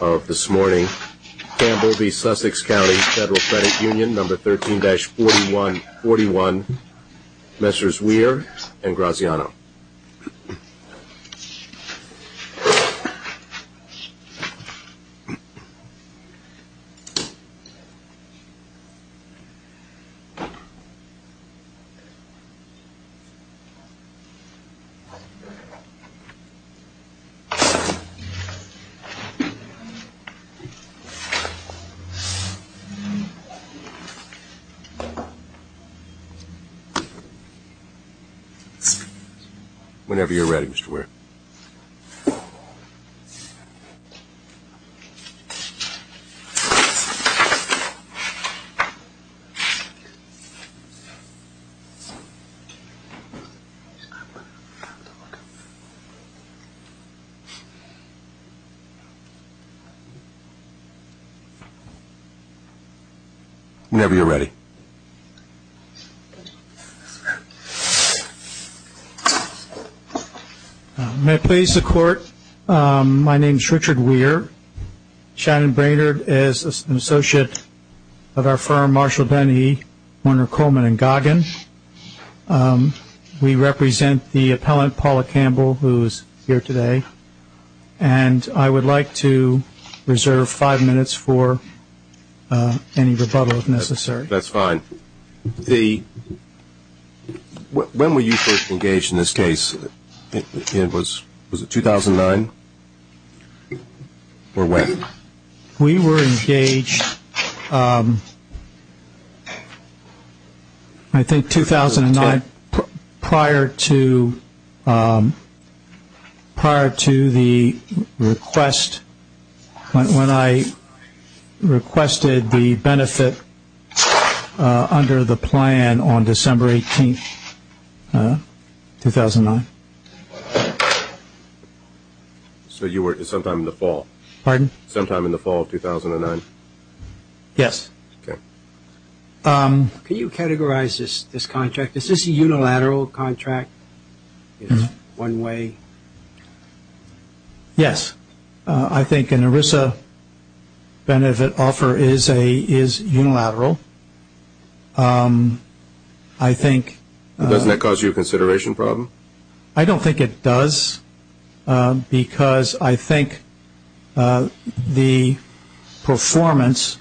of this morning, Campbell v. Sussex County Federal Credit Union, number 13-4141, Messrs. Weir and Graziano. Whenever you're ready, Mr. Weir. Whenever you're ready, Mr. Weir. My name is Richard Weir. Shannon Brainerd is an associate of our firm Marshall, Ben E., Warner, Coleman and Goggin. We represent the appellant Paula Campbell, who is here today. And I would like to reserve five minutes for any rebuttal, if necessary. That's fine. When were you first engaged in this case? Was it 2009 or when? We were engaged, I think 2009, prior to the request, when I requested the benefit under the plan on December 18, 2009. So you were sometime in the fall? Pardon? Sometime in the fall of 2009? Yes. Okay. Can you categorize this contract? Is this a unilateral contract? Is it one way? Yes. I think an ERISA benefit offer is unilateral. I think... Doesn't that cause you a consideration problem? I don't think it does, because I think the performance,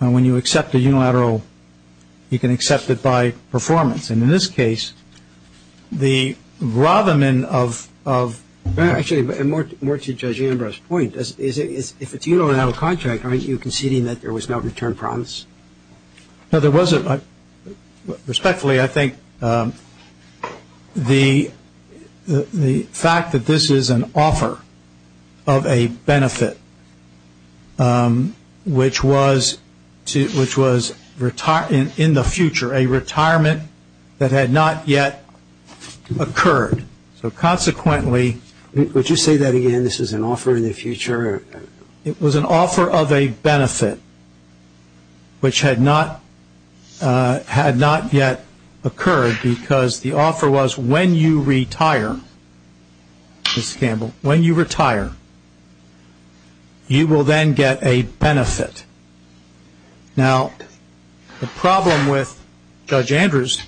when you accept a unilateral, you can accept it by performance. And in this case, the ratherment of... Actually, more to Judge Ambrose's point, if it's a unilateral contract, aren't you conceding that there was no return promise? No, there wasn't. Respectfully, I think the fact that this is an offer of a benefit, which was in the future, a retirement that had not yet occurred, so consequently... Would you say that again? This is an offer in the future? It was an offer of a benefit, which had not yet occurred, because the offer was when you retire, when you retire, you will then get a benefit. Now, the problem with Judge Ambrose's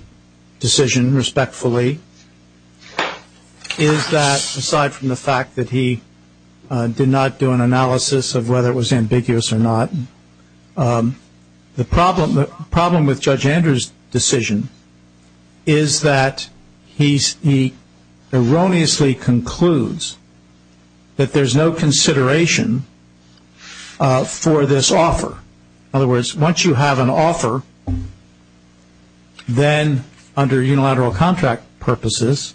decision, respectfully, is that, aside from the fact that he did not do an analysis of whether it was ambiguous or not, the problem with Judge Ambrose's decision is that he erroneously concludes that there's no consideration for this offer. In other words, once you have an offer, then under unilateral contract purposes,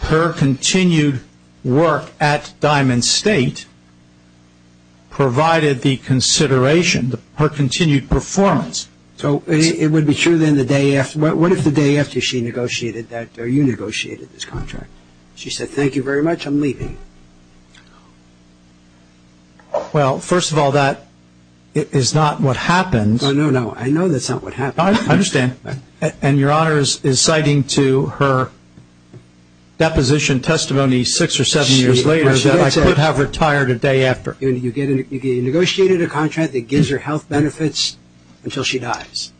her continued work at Diamond State provided the consideration, her continued performance. So it would be true then the day after... What if the day after she negotiated that, or you negotiated this contract, she said, thank you very much, I'm leaving? Well, first of all, that is not what happened. No, no, no. I know that's not what happened. I understand. And Your Honor is citing to her deposition testimony six or seven years later that I could have retired a day after. You negotiated a contract that gives her health benefits until she dies.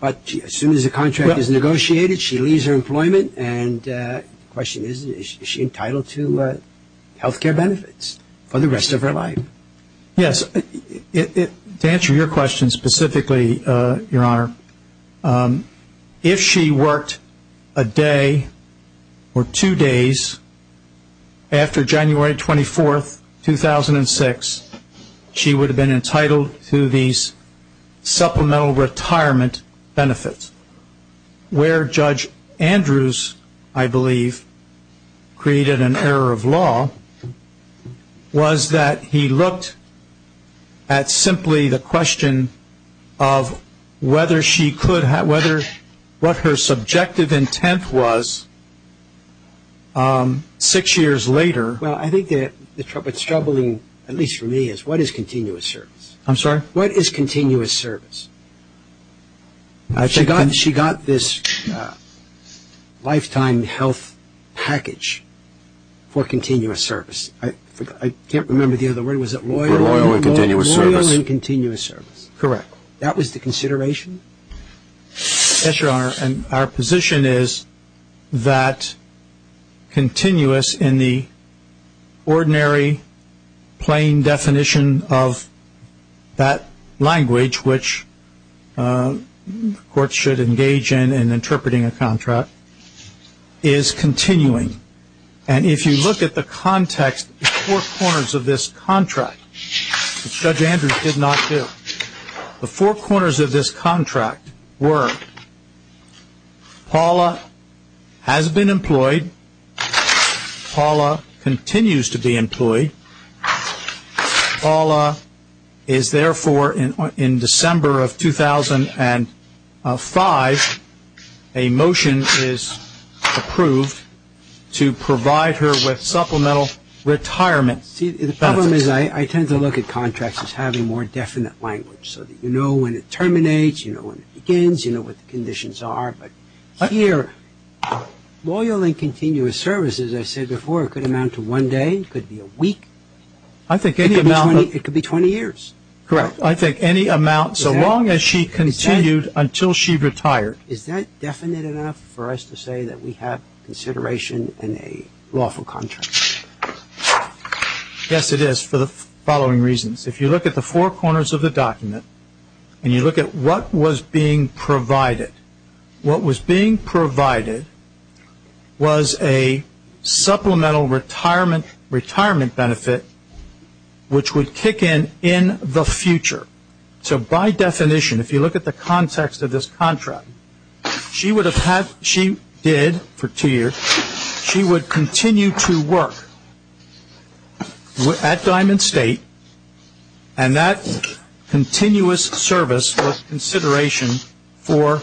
But as soon as the contract is negotiated, she leaves her employment, and the question is, is she entitled to health care benefits for the rest of her life? Yes. To answer your question specifically, Your Honor, if she worked a day or two days after January 24, 2006, she would have been entitled to these supplemental retirement benefits, where Judge Andrews, I believe, created an error of law, was that he looked at simply the question of whether she could have, what her subjective intent was six years later. Well, I think what's troubling, at least for me, is what is continuous service? I'm sorry? What is continuous service? She got this lifetime health package for continuous service. I can't remember the other word. Was it loyal? Loyal and continuous service. Loyal and continuous service. Correct. That was the consideration? Yes, Your Honor, and our position is that continuous in the ordinary plain definition of that language, which courts should engage in in interpreting a contract, is continuing. And if you look at the context, the four corners of this contract, which Judge Andrews did not do, the four corners of this contract were Paula has been employed, Paula continues to be employed, Paula is therefore, in December of 2005, a motion is approved to provide her with supplemental retirement benefits. The problem is I tend to look at contracts as having more definite language so that you know when it terminates, you know when it begins, you know what the conditions are. But here, loyal and continuous service, as I said before, could amount to one day, could be a week. I think any amount of It could be 20 years. Correct. I think any amount, so long as she continued until she retired. Is that definite enough for us to say that we have consideration in a lawful contract? Yes, it is for the following reasons. If you look at the four corners of the document and you look at what was being provided, what was being provided was a supplemental retirement benefit which would kick in in the future. So by definition, if you look at the context of this contract, she would have had, she did for two years, she would continue to work at Diamond State and that continuous service was consideration for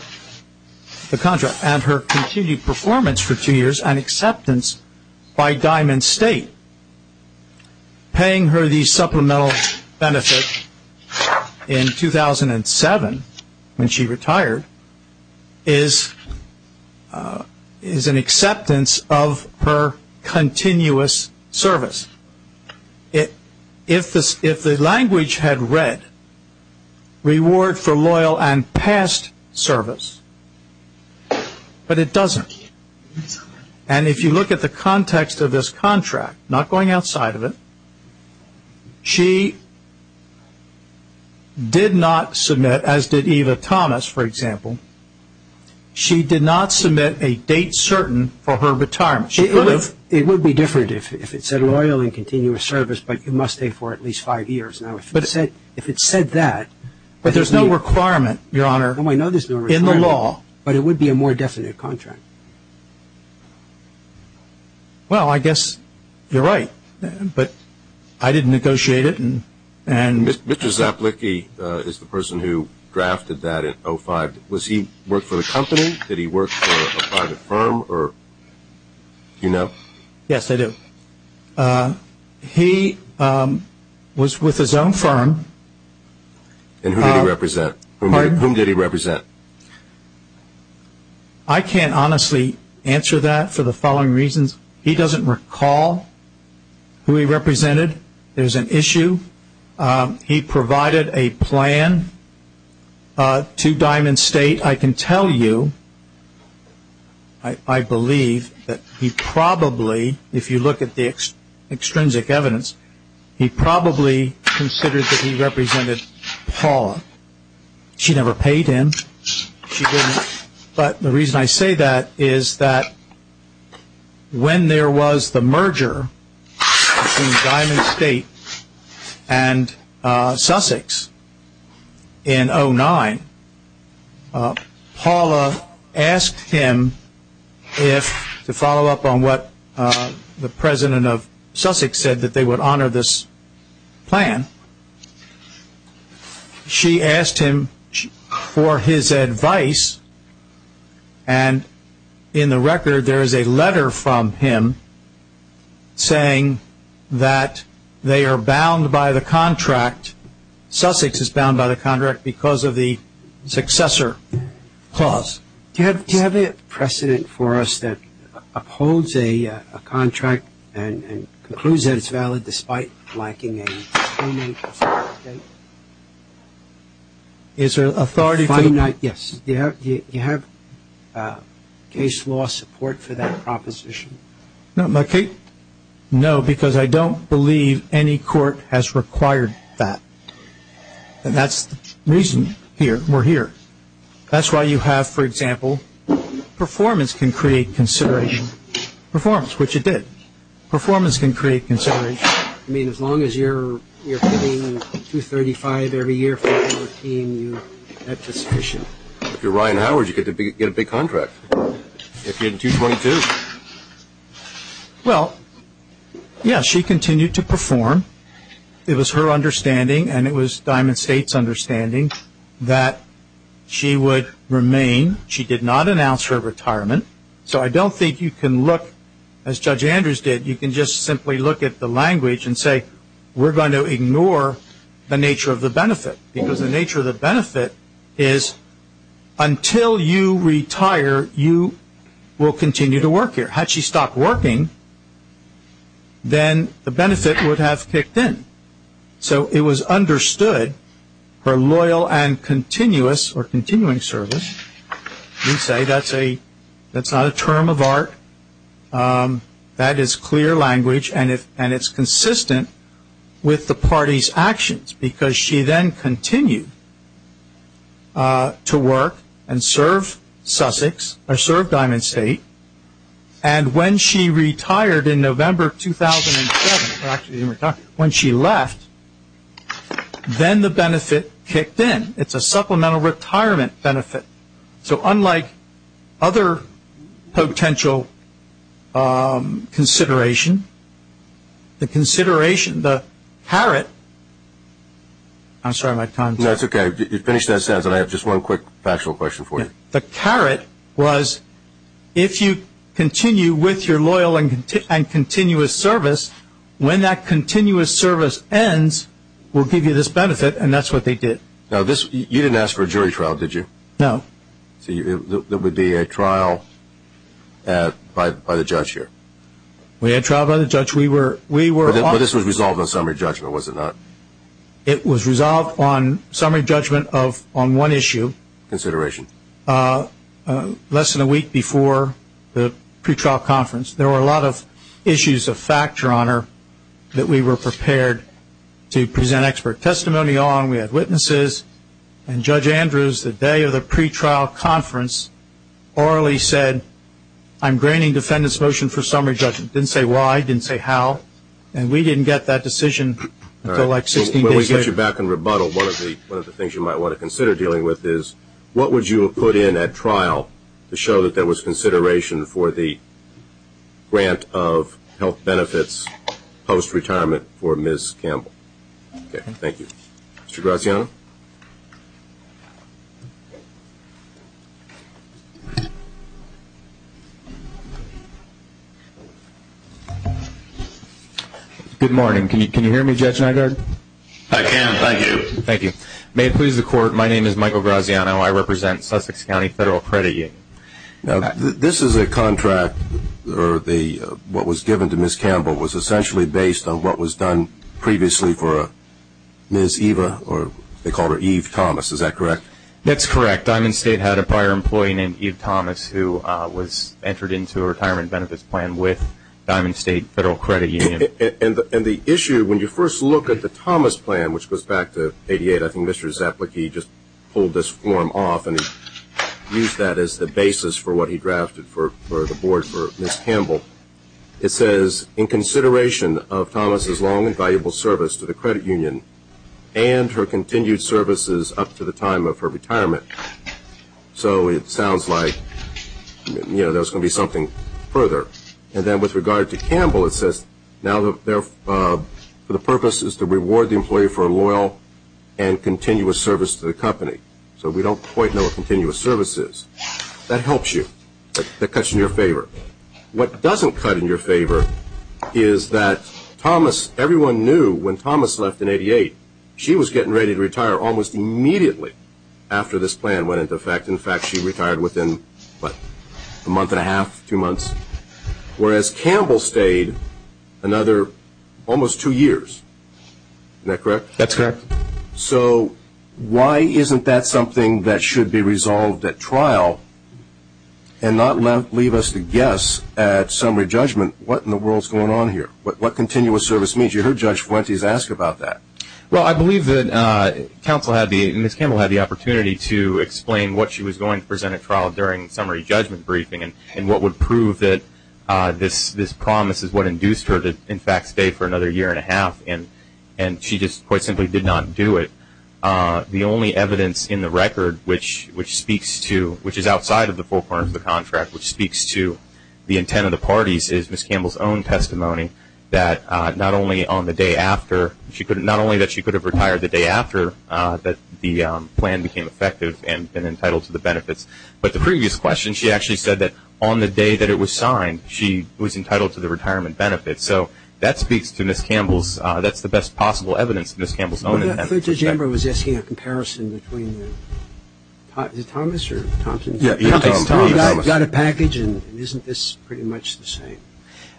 the contract and her continued performance for two years and acceptance by Diamond State. Paying her the supplemental benefit in 2007 when she retired is an acceptance of her continuous service. If the language had read, reward for loyal and past service, but it doesn't. And if you look at the context of this contract, not going outside of it, she did not submit, as did Eva Thomas, for example, she did not submit a date certain for her retirement. It would be different if it said loyal and continuous service, but you must pay for at least five years. Now, if it said that, but there's no requirement, Your Honor, in the law, but it would be a more definite contract. Well, I guess you're right, but I didn't negotiate it. Mr. Zaplicki is the person who drafted that in 2005. Was he working for the company? Did he work for a private firm? Do you know? Yes, I do. He was with his own firm. And whom did he represent? I can't honestly answer that for the following reasons. He doesn't recall who he represented. There's an issue. He provided a plan to Diamond State. I can tell you, I believe, that he probably, if you look at the extrinsic evidence, he probably considered that he represented Paul. She never paid him. But the reason I say that is that when there was the merger between Diamond State and Sussex in 2009, Paula asked him to follow up on what the president of Sussex said, that they would honor this plan. She asked him for his advice, and in the record there is a letter from him saying that they are bound by the contract. Sussex is bound by the contract because of the successor clause. Do you have a precedent for us that upholds a contract and concludes that it's valid despite lacking a payment? Is there authority? Yes. Do you have case law support for that proposition? No, because I don't believe any court has required that. That's the reason we're here. That's why you have, for example, performance can create consideration. Performance, which it did. Performance can create consideration. I mean, as long as you're paying 235 every year for your team, that's sufficient. If you're Ryan Howard, you get a big contract. If you're in 222. Well, yes, she continued to perform. It was her understanding, and it was Diamond State's understanding, that she would remain. She did not announce her retirement. So I don't think you can look, as Judge Andrews did, you can just simply look at the language and say, we're going to ignore the nature of the benefit because the nature of the benefit is until you retire, you will continue to work here. Had she stopped working, then the benefit would have kicked in. So it was understood her loyal and continuous or continuing service, we'd say that's not a term of art. That is clear language, and it's consistent with the party's actions because she then continued to work and serve Diamond State, and when she retired in November 2007, when she left, then the benefit kicked in. It's a supplemental retirement benefit. So unlike other potential consideration, the consideration, the carrot, I'm sorry, my time's up. No, it's okay. Finish that sentence, and I have just one quick factual question for you. The carrot was if you continue with your loyal and continuous service, when that continuous service ends, we'll give you this benefit, and that's what they did. Now, you didn't ask for a jury trial, did you? No. So it would be a trial by the judge here. We had a trial by the judge. But this was resolved on summary judgment, was it not? It was resolved on summary judgment on one issue. Consideration. Less than a week before the pretrial conference, there were a lot of issues of factor on her that we were prepared to present expert testimony on. We had witnesses, and Judge Andrews, the day of the pretrial conference, orally said, I'm graining defendant's motion for summary judgment. Didn't say why, didn't say how, and we didn't get that decision until like 16 days later. All right. When we get you back in rebuttal, one of the things you might want to consider dealing with is what would you have put in at trial to show that there was consideration for the grant of health benefits post-retirement for Ms. Campbell? Thank you. Mr. Graziano? Good morning. Can you hear me, Judge Nygaard? I can. Thank you. Thank you. May it please the Court, my name is Michael Graziano. I represent Sussex County Federal Credit Union. Now, this is a contract, or what was given to Ms. Campbell, was essentially based on what was done previously for Ms. Eva, or they called her Eve Thomas. Is that correct? That's correct. Diamond State had a prior employee named Eve Thomas, who was entered into a retirement benefits plan with Diamond State Federal Credit Union. And the issue, when you first look at the Thomas plan, which goes back to 88, I think Mr. Zaplicky just pulled this form off, and he used that as the basis for what he drafted for the board for Ms. Campbell. It says, in consideration of Thomas' long and valuable service to the credit union and her continued services up to the time of her retirement. So it sounds like, you know, there's going to be something further. And then with regard to Campbell, it says, now the purpose is to reward the employee for a loyal and continuous service to the company. So we don't quite know what continuous service is. That helps you. That cuts in your favor. What doesn't cut in your favor is that Thomas, everyone knew when Thomas left in 88, she was getting ready to retire almost immediately after this plan went into effect. In fact, she retired within, what, a month and a half, two months? Whereas Campbell stayed another almost two years. Isn't that correct? That's correct. So why isn't that something that should be resolved at trial and not leave us to guess at summary judgment what in the world is going on here, what continuous service means? You heard Judge Fuentes ask about that. Well, I believe that counsel had the, and Ms. Campbell had the opportunity to explain what she was going to present at trial during summary judgment briefing and what would prove that this promise is what induced her to, in fact, stay for another year and a half. And she just quite simply did not do it. The only evidence in the record which speaks to, which is outside of the four corners of the contract, which speaks to the intent of the parties is Ms. Campbell's own testimony that not only on the day after, not only that she could have retired the day after the plan became effective and been entitled to the benefits, but the previous question, she actually said that on the day that it was signed, she was entitled to the retirement benefits. So that speaks to Ms. Campbell's, that's the best possible evidence, Ms. Campbell's own intent. But Judge Amber was asking a comparison between, is it Thomas or Thompson? Yeah, it's Thomas. Got a package and isn't this pretty much the same?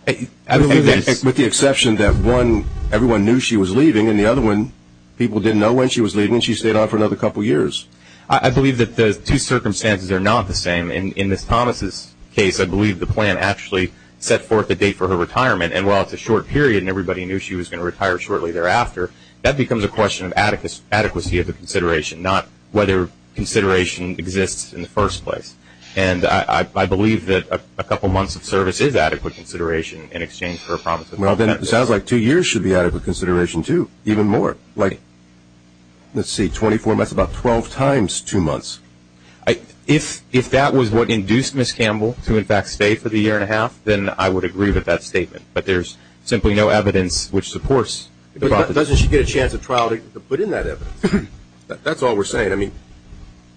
With the exception that one, everyone knew she was leaving, and the other one people didn't know when she was leaving and she stayed on for another couple of years. I believe that the two circumstances are not the same. In Ms. Thomas' case, I believe the plan actually set forth a date for her retirement, and while it's a short period and everybody knew she was going to retire shortly thereafter, that becomes a question of adequacy of the consideration, not whether consideration exists in the first place. And I believe that a couple months of service is adequate consideration in exchange for a promise of benefits. Well, then it sounds like two years should be adequate consideration too, even more. Like, let's see, 24 months is about 12 times two months. If that was what induced Ms. Campbell to in fact stay for the year and a half, then I would agree with that statement. But there's simply no evidence which supports it. But doesn't she get a chance at trial to put in that evidence? That's all we're saying. I mean,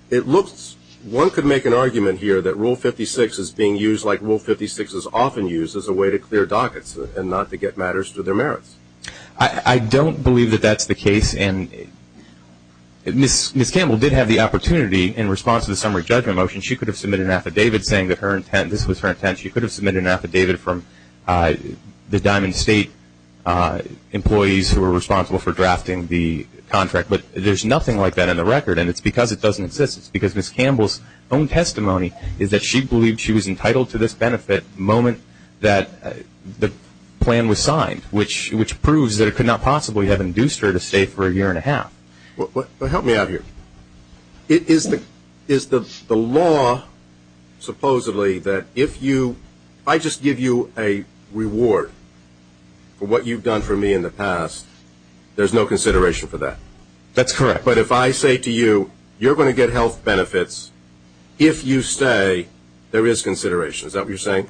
it looks one could make an argument here that Rule 56 is being used like Rule 56 is often used as a way to clear dockets and not to get matters to their merits. I don't believe that that's the case, and Ms. Campbell did have the opportunity in response to the summary judgment motion, she could have submitted an affidavit saying that her intent, this was her intent, she could have submitted an affidavit from the Diamond State employees who were responsible for drafting the contract. But there's nothing like that in the record, and it's because it doesn't exist. It's because Ms. Campbell's own testimony is that she believed she was entitled to this benefit the moment that the plan was signed, which proves that it could not possibly have induced her to stay for a year and a half. Well, help me out here. Is the law supposedly that if I just give you a reward for what you've done for me in the past, there's no consideration for that? That's correct. But if I say to you, you're going to get health benefits if you stay, there is consideration. Is that what you're saying?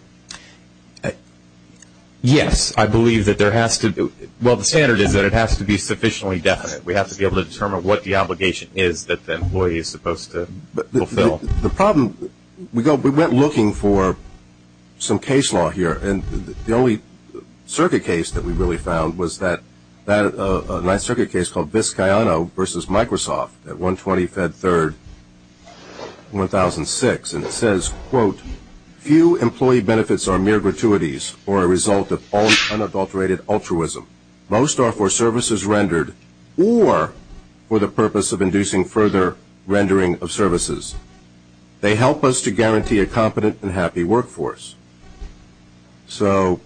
Yes, I believe that there has to be. Well, the standard is that it has to be sufficiently definite. We have to be able to determine what the obligation is that the employee is supposed to fulfill. The problem, we went looking for some case law here, and the only circuit case that we really found was a nice circuit case called Vizcayano v. Microsoft at 120 Fed 3rd, 2006, and it says, quote, few employee benefits are mere gratuities or a result of unadulterated altruism. Most are for services rendered or for the purpose of inducing further rendering of services. They help us to guarantee a competent and happy workforce. So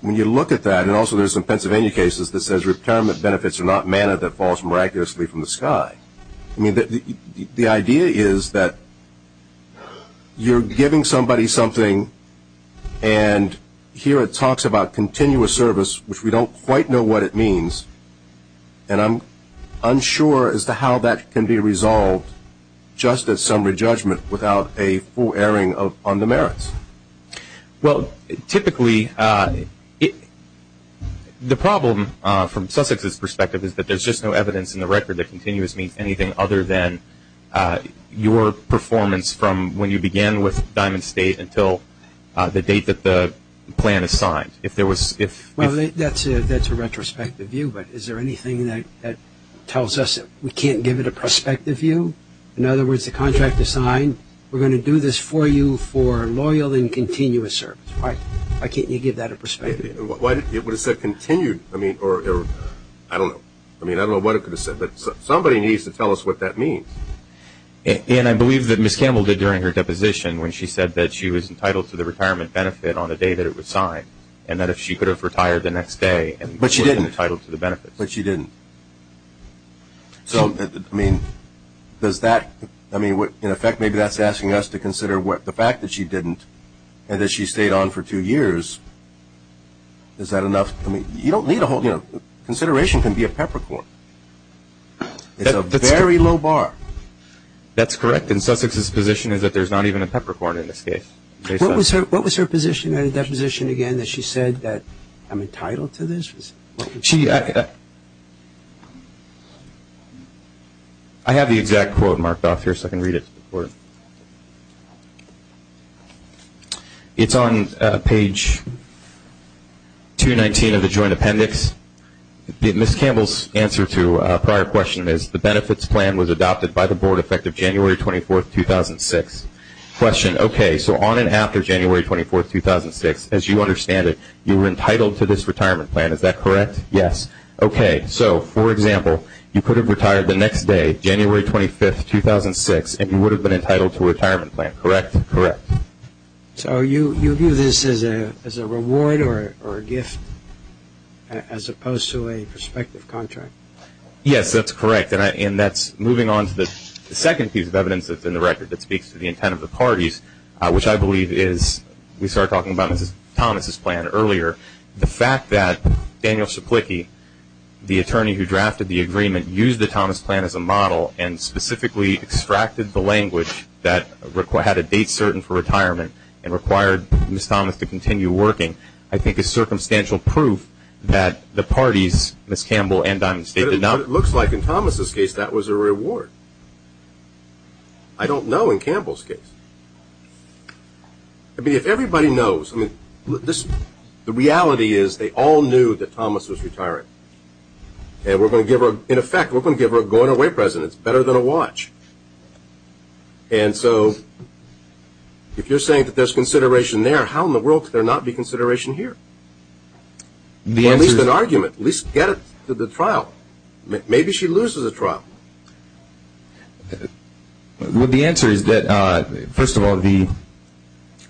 when you look at that, and also there's some Pennsylvania cases that says retirement benefits are not manna that falls miraculously from the sky. I mean, the idea is that you're giving somebody something, and here it talks about continuous service, which we don't quite know what it means, and I'm unsure as to how that can be resolved just as summary judgment without a full airing on the merits. Well, typically, the problem from Sussex's perspective is that there's just no evidence in the record that continuous means anything other than your performance from when you began with Diamond State until the date that the plan is signed. Well, that's a retrospective view, but is there anything that tells us we can't give it a prospective view? In other words, the contract is signed. We're going to do this for you for loyal and continuous service. Why can't you give that a prospective view? It would have said continued, I mean, or I don't know. I mean, I don't know what it could have said, but somebody needs to tell us what that means. And I believe that Ms. Campbell did during her deposition when she said that she was entitled to the retirement benefit on the day that it was signed, and that if she could have retired the next day and was entitled to the benefits. But she didn't. So, I mean, does that – I mean, in effect, maybe that's asking us to consider the fact that she didn't and that she stayed on for two years. Is that enough? I mean, you don't need a whole – you know, consideration can be a peppercorn. It's a very low bar. That's correct. And Sussex's position is that there's not even a peppercorn in this case. What was her position in her deposition again that she said that I'm entitled to this? She – I have the exact quote marked off here so I can read it. It's on page 219 of the joint appendix. Ms. Campbell's answer to a prior question is, the benefits plan was adopted by the board effective January 24, 2006. Question, okay, so on and after January 24, 2006, as you understand it, you were entitled to this retirement plan, is that correct? Yes. Okay, so, for example, you could have retired the next day, January 25, 2006, and you would have been entitled to a retirement plan, correct? Correct. So you view this as a reward or a gift as opposed to a prospective contract? Yes, that's correct. And that's moving on to the second piece of evidence that's in the record that speaks to the intent of the parties, which I believe is – we started talking about Thomas' plan earlier. The fact that Daniel Saplicki, the attorney who drafted the agreement, used the Thomas plan as a model and specifically extracted the language that had a date certain for retirement and required Ms. Thomas to continue working, I think is circumstantial proof that the parties, Ms. Campbell and Diamond State, did not – But it looks like in Thomas' case that was a reward. I don't know in Campbell's case. I mean, if everybody knows – I mean, the reality is they all knew that Thomas was retiring. And we're going to give her – in effect, we're going to give her a going away present. It's better than a watch. And so if you're saying that there's consideration there, how in the world could there not be consideration here? At least an argument. At least get her to the trial. Maybe she loses a trial. Well, the answer is that, first of all, the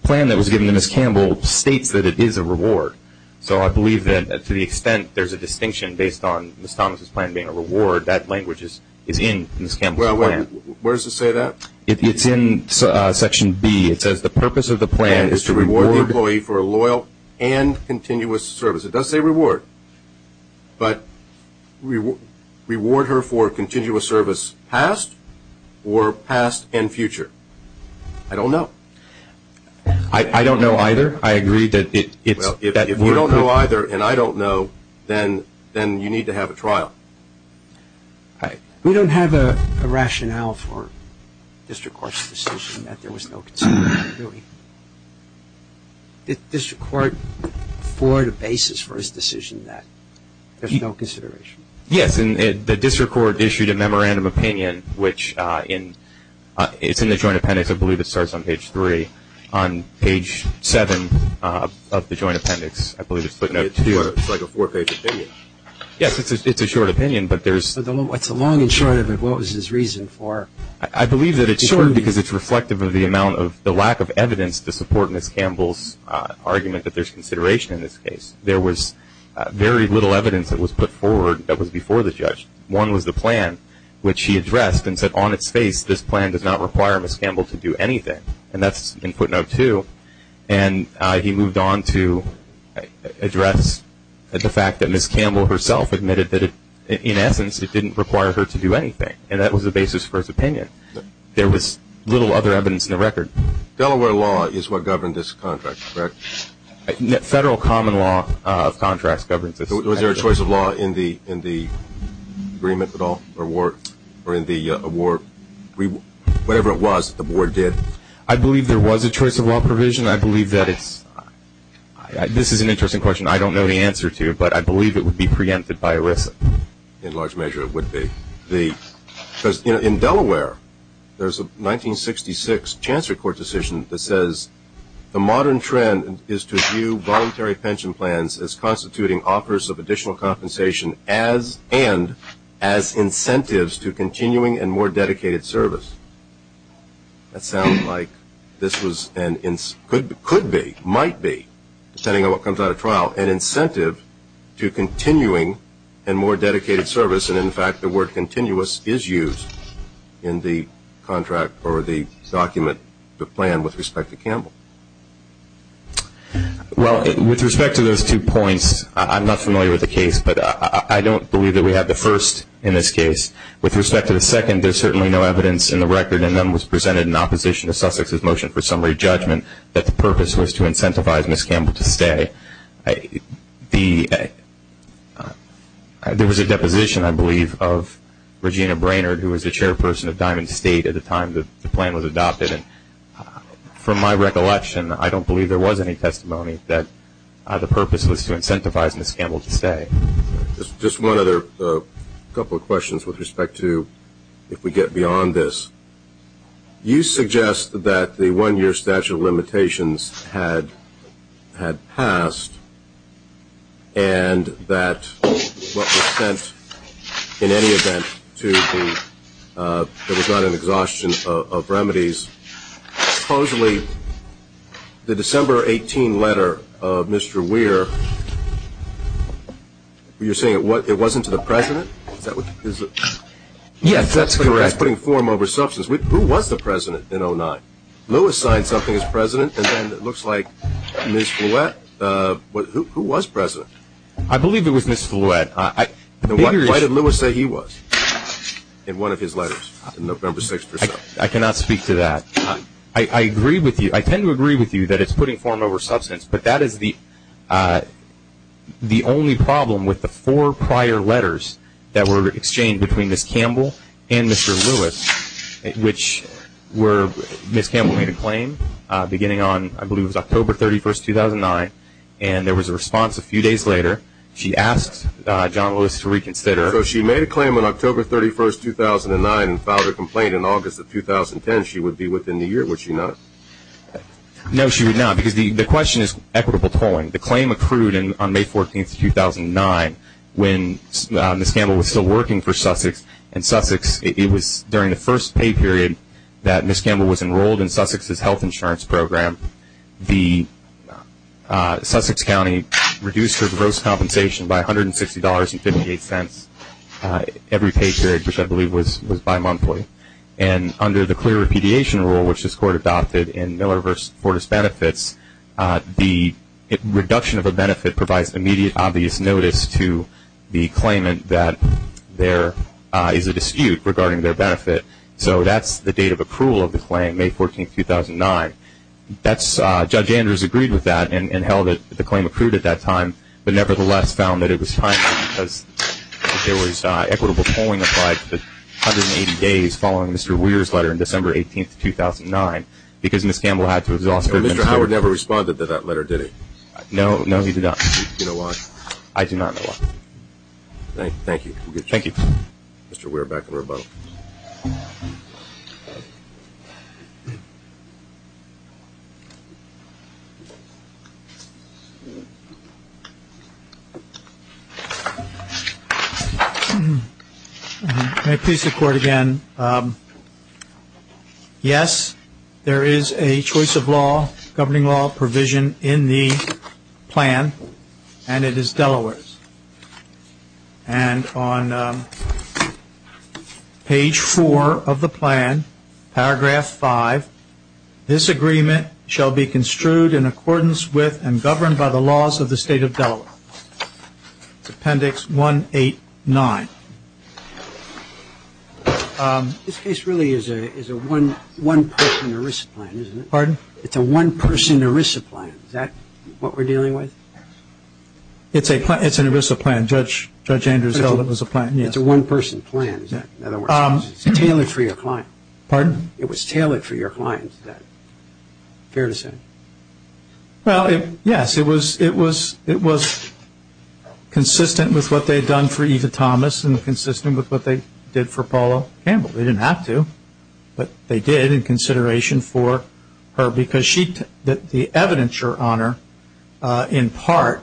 plan that was given to Ms. Campbell states that it is a reward. So I believe that to the extent there's a distinction based on Ms. Thomas' plan being a reward, that language is in Ms. Campbell's plan. Well, where does it say that? It's in Section B. It says the purpose of the plan is to reward the employee for a loyal and continuous service. It does say reward. But reward her for a continuous service past or past and future? I don't know. I don't know either. I agree that it's – Well, if you don't know either and I don't know, then you need to have a trial. We don't have a rationale for district court's decision that there was no continuity, really. Did district court afford a basis for his decision that there's no consideration? Yes, and the district court issued a memorandum of opinion, which in – it's in the Joint Appendix. I believe it starts on Page 3. On Page 7 of the Joint Appendix, I believe it's footnote 2. It's like a four-page opinion. Yes, it's a short opinion, but there's – It's a long and short of it. What was his reason for – I believe that it's short because it's reflective of the amount of – the lack of evidence to support Ms. Campbell's argument that there's consideration in this case. There was very little evidence that was put forward that was before the judge. One was the plan, which he addressed and said on its face, this plan does not require Ms. Campbell to do anything, and that's in footnote 2. And he moved on to address the fact that Ms. Campbell herself admitted that, in essence, it didn't require her to do anything, and that was the basis for his opinion. There was little other evidence in the record. Delaware law is what governed this contract, correct? Federal common law of contracts governs this. Was there a choice of law in the agreement at all or in the award? Whatever it was that the board did. I believe there was a choice of law provision. I believe that it's – this is an interesting question. I don't know the answer to, but I believe it would be preempted by ERISA. In large measure, it would be. Because, you know, in Delaware, there's a 1966 chancery court decision that says, the modern trend is to view voluntary pension plans as constituting offers of additional compensation and as incentives to continuing and more dedicated service. That sounds like this was – could be, might be, depending on what comes out of trial, an incentive to continuing and more dedicated service. And, in fact, the word continuous is used in the contract or the document, the plan, with respect to Campbell. Well, with respect to those two points, I'm not familiar with the case, but I don't believe that we have the first in this case. With respect to the second, there's certainly no evidence in the record, and none was presented in opposition to Sussex's motion for summary judgment that the purpose was to incentivize Ms. Campbell to stay. There was a deposition, I believe, of Regina Brainerd, who was the chairperson of Diamond State at the time the plan was adopted. And from my recollection, I don't believe there was any testimony that the purpose was to incentivize Ms. Campbell to stay. Just one other couple of questions with respect to if we get beyond this. You suggest that the one-year statute of limitations had passed and that what was sent in any event to the – that was not an exhaustion of remedies. Supposedly, the December 18 letter of Mr. Weir, you're saying it wasn't to the president? Is that what – is it? Yes, that's correct. That's putting form over substance. Who was the president in 2009? Lewis signed something as president, and then it looks like Ms. Flewett. Who was president? I believe it was Ms. Flewett. Why did Lewis say he was in one of his letters in November 6th or so? I cannot speak to that. I agree with you. I tend to agree with you that it's putting form over substance, but that is the only problem with the four prior letters that were exchanged between Ms. Campbell and Mr. Lewis, which Ms. Campbell made a claim beginning on, I believe it was October 31st, 2009, and there was a response a few days later. She asked John Lewis to reconsider. So she made a claim on October 31st, 2009, and filed a complaint in August of 2010. She would be within a year. Would she not? No, she would not, because the question is equitable tolling. The claim accrued on May 14th, 2009, when Ms. Campbell was still working for Sussex, and it was during the first pay period that Ms. Campbell was enrolled in Sussex's health insurance program. The Sussex County reduced her gross compensation by $160.58 every pay period, which I believe was bimonthly. And under the clear repudiation rule, which this court adopted in Miller v. Fortas Benefits, the reduction of a benefit provides immediate obvious notice to the claimant that there is a dispute regarding their benefit. So that's the date of accrual of the claim, May 14th, 2009. Judge Andrews agreed with that and held that the claim accrued at that time, but nevertheless found that it was timely because there was equitable tolling applied for the 180 days following Mr. Weir's letter on December 18th, 2009, because Ms. Campbell had to exhaust her benefit. Mr. Howard never responded to that letter, did he? No, no, he did not. Do you know why? I do not know why. Thank you. Thank you. Mr. Weir, back to the rebuttal. May I please the court again? Yes, there is a choice of law, governing law provision in the plan, and it is Delaware's. And on page four of the plan, paragraph five, this agreement shall be construed in accordance with and governed by the laws of the state of Delaware. Appendix 189. This case really is a one-person ERISA plan, isn't it? Pardon? It's a one-person ERISA plan. Is that what we're dealing with? It's an ERISA plan. Judge Andrews held it was a plan, yes. It's a one-person plan. In other words, it's tailored for your client. Pardon? It was tailored for your client, is that fair to say? Well, yes, it was consistent with what they had done for Eva Thomas and consistent with what they did for Paula Campbell. They didn't have to, but they did in consideration for her because the evidence on her, in part,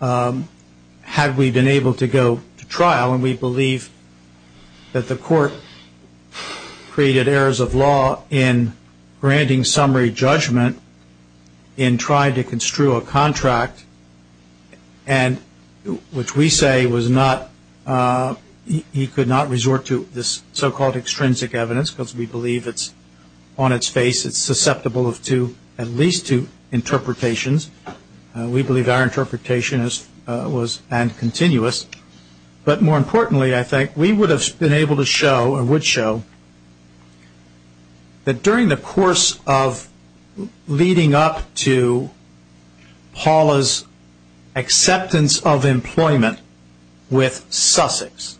had we been able to go to trial, and we believe that the court created errors of law in granting summary judgment and tried to construe a contract, which we say he could not resort to this so-called extrinsic evidence because we believe it's on its face. It's susceptible to at least two interpretations. We believe our interpretation was and continues. But more importantly, I think, we would have been able to show or would show that during the course of leading up to Paula's acceptance of employment with Sussex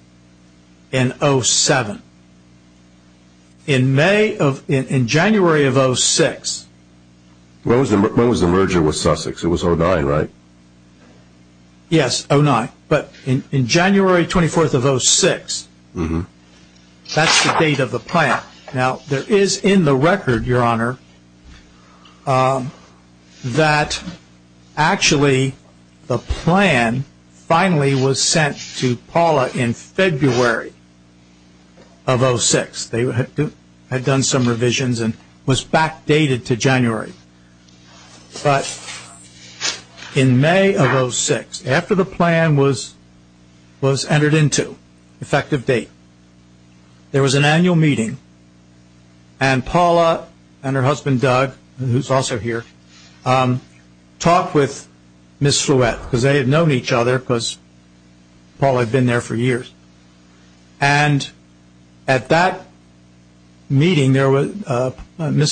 in 07, in May of, in January of 06. When was the merger with Sussex? It was 09, right? Yes, 09, but in January 24th of 06, that's the date of the plan. Now, there is in the record, Your Honor, that actually the plan finally was sent to Paula in February of 06. They had done some revisions and was backdated to January. But in May of 06, after the plan was entered into, effective date, there was an annual meeting and Paula and her husband, Doug, who is also here, talked with Ms. Flewett because they had known each other because Paula had been there for years. And at that meeting, Ms.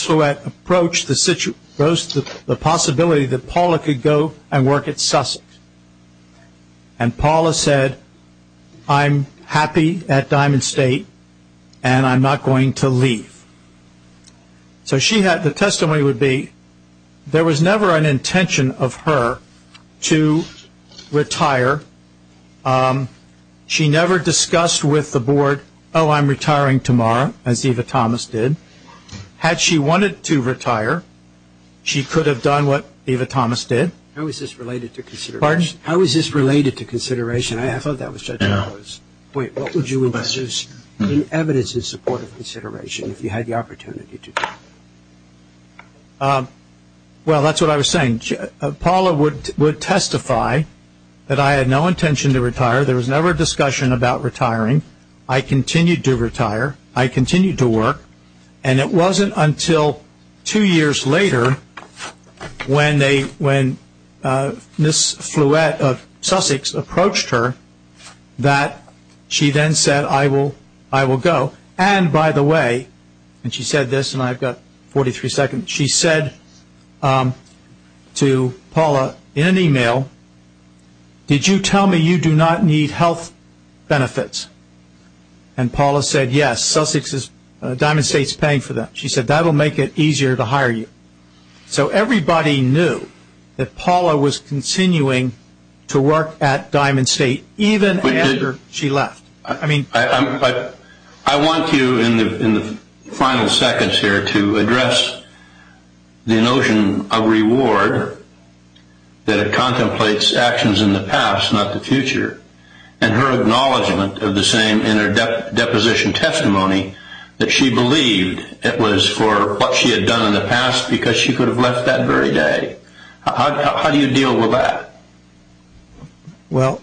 Flewett approached the possibility that Paula could go and work at Sussex. And Paula said, I'm happy at Diamond State and I'm not going to leave. So the testimony would be there was never an intention of her to retire. She never discussed with the board, oh, I'm retiring tomorrow, as Eva Thomas did. Had she wanted to retire, she could have done what Eva Thomas did. How is this related to consideration? Pardon? How is this related to consideration? I thought that was Judge Lowe's point. What would you introduce in evidence in support of consideration if you had the opportunity to do that? Well, that's what I was saying. Paula would testify that I had no intention to retire. There was never a discussion about retiring. I continued to retire. I continued to work. And it wasn't until two years later when Ms. Flewett of Sussex approached her that she then said, I will go. And by the way, and she said this and I've got 43 seconds. She said to Paula in an email, did you tell me you do not need health benefits? And Paula said, yes, Diamond State is paying for that. She said, that will make it easier to hire you. So everybody knew that Paula was continuing to work at Diamond State even after she left. I want you in the final seconds here to address the notion of reward, that it contemplates actions in the past, not the future, and her acknowledgement of the same in her deposition testimony that she believed it was for what she had done in the past because she could have left that very day. How do you deal with that? Well,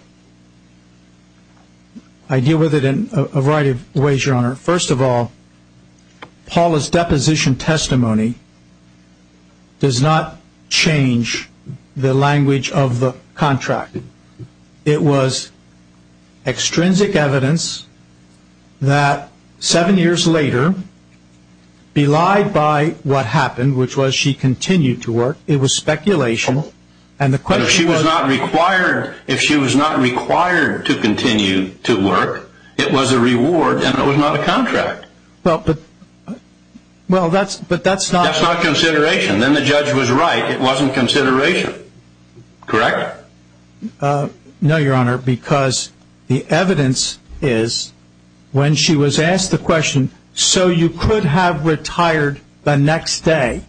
I deal with it in a variety of ways, Your Honor. First of all, Paula's deposition testimony does not change the language of the contract. It was extrinsic evidence that seven years later, belied by what happened, which was she continued to work, it was speculation. But if she was not required to continue to work, it was a reward and it was not a contract. But that's not consideration. Then the judge was right. It wasn't consideration. Correct? No, Your Honor, because the evidence is when she was asked the question, so you could have retired the next day,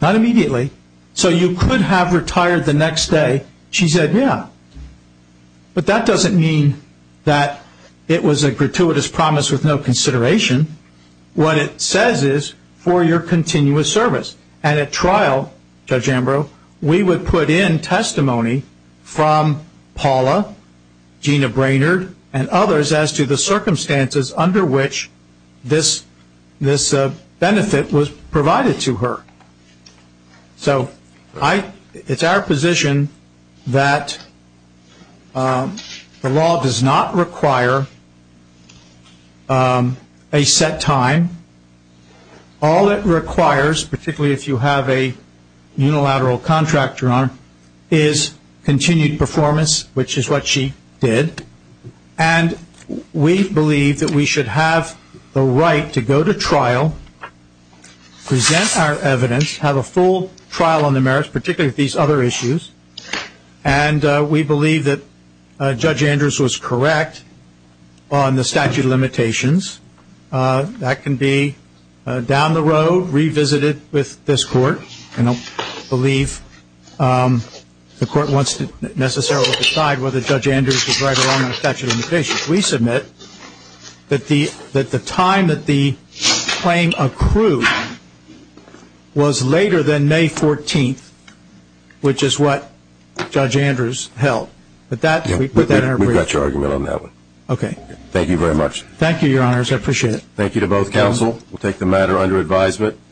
not immediately, so you could have retired the next day, she said, yeah. But that doesn't mean that it was a gratuitous promise with no consideration. What it says is for your continuous service. And at trial, Judge Ambrose, we would put in testimony from Paula, Gina Brainerd, and others as to the circumstances under which this benefit was provided to her. So it's our position that the law does not require a set time. All it requires, particularly if you have a unilateral contractor on, is continued performance, which is what she did. And we believe that we should have the right to go to trial, present our evidence, have a full trial on the merits, particularly these other issues. And we believe that Judge Ambrose was correct on the statute of limitations. That can be down the road, revisited with this court. I don't believe the court wants to necessarily decide whether Judge Ambrose was right or wrong on the statute of limitations. We submit that the time that the claim accrued was later than May 14th, which is what Judge Ambrose held. We've got your argument on that one. Okay. Thank you very much. Thank you, Your Honors. I appreciate it. Thank you to both counsel. We'll take the matter under advisement.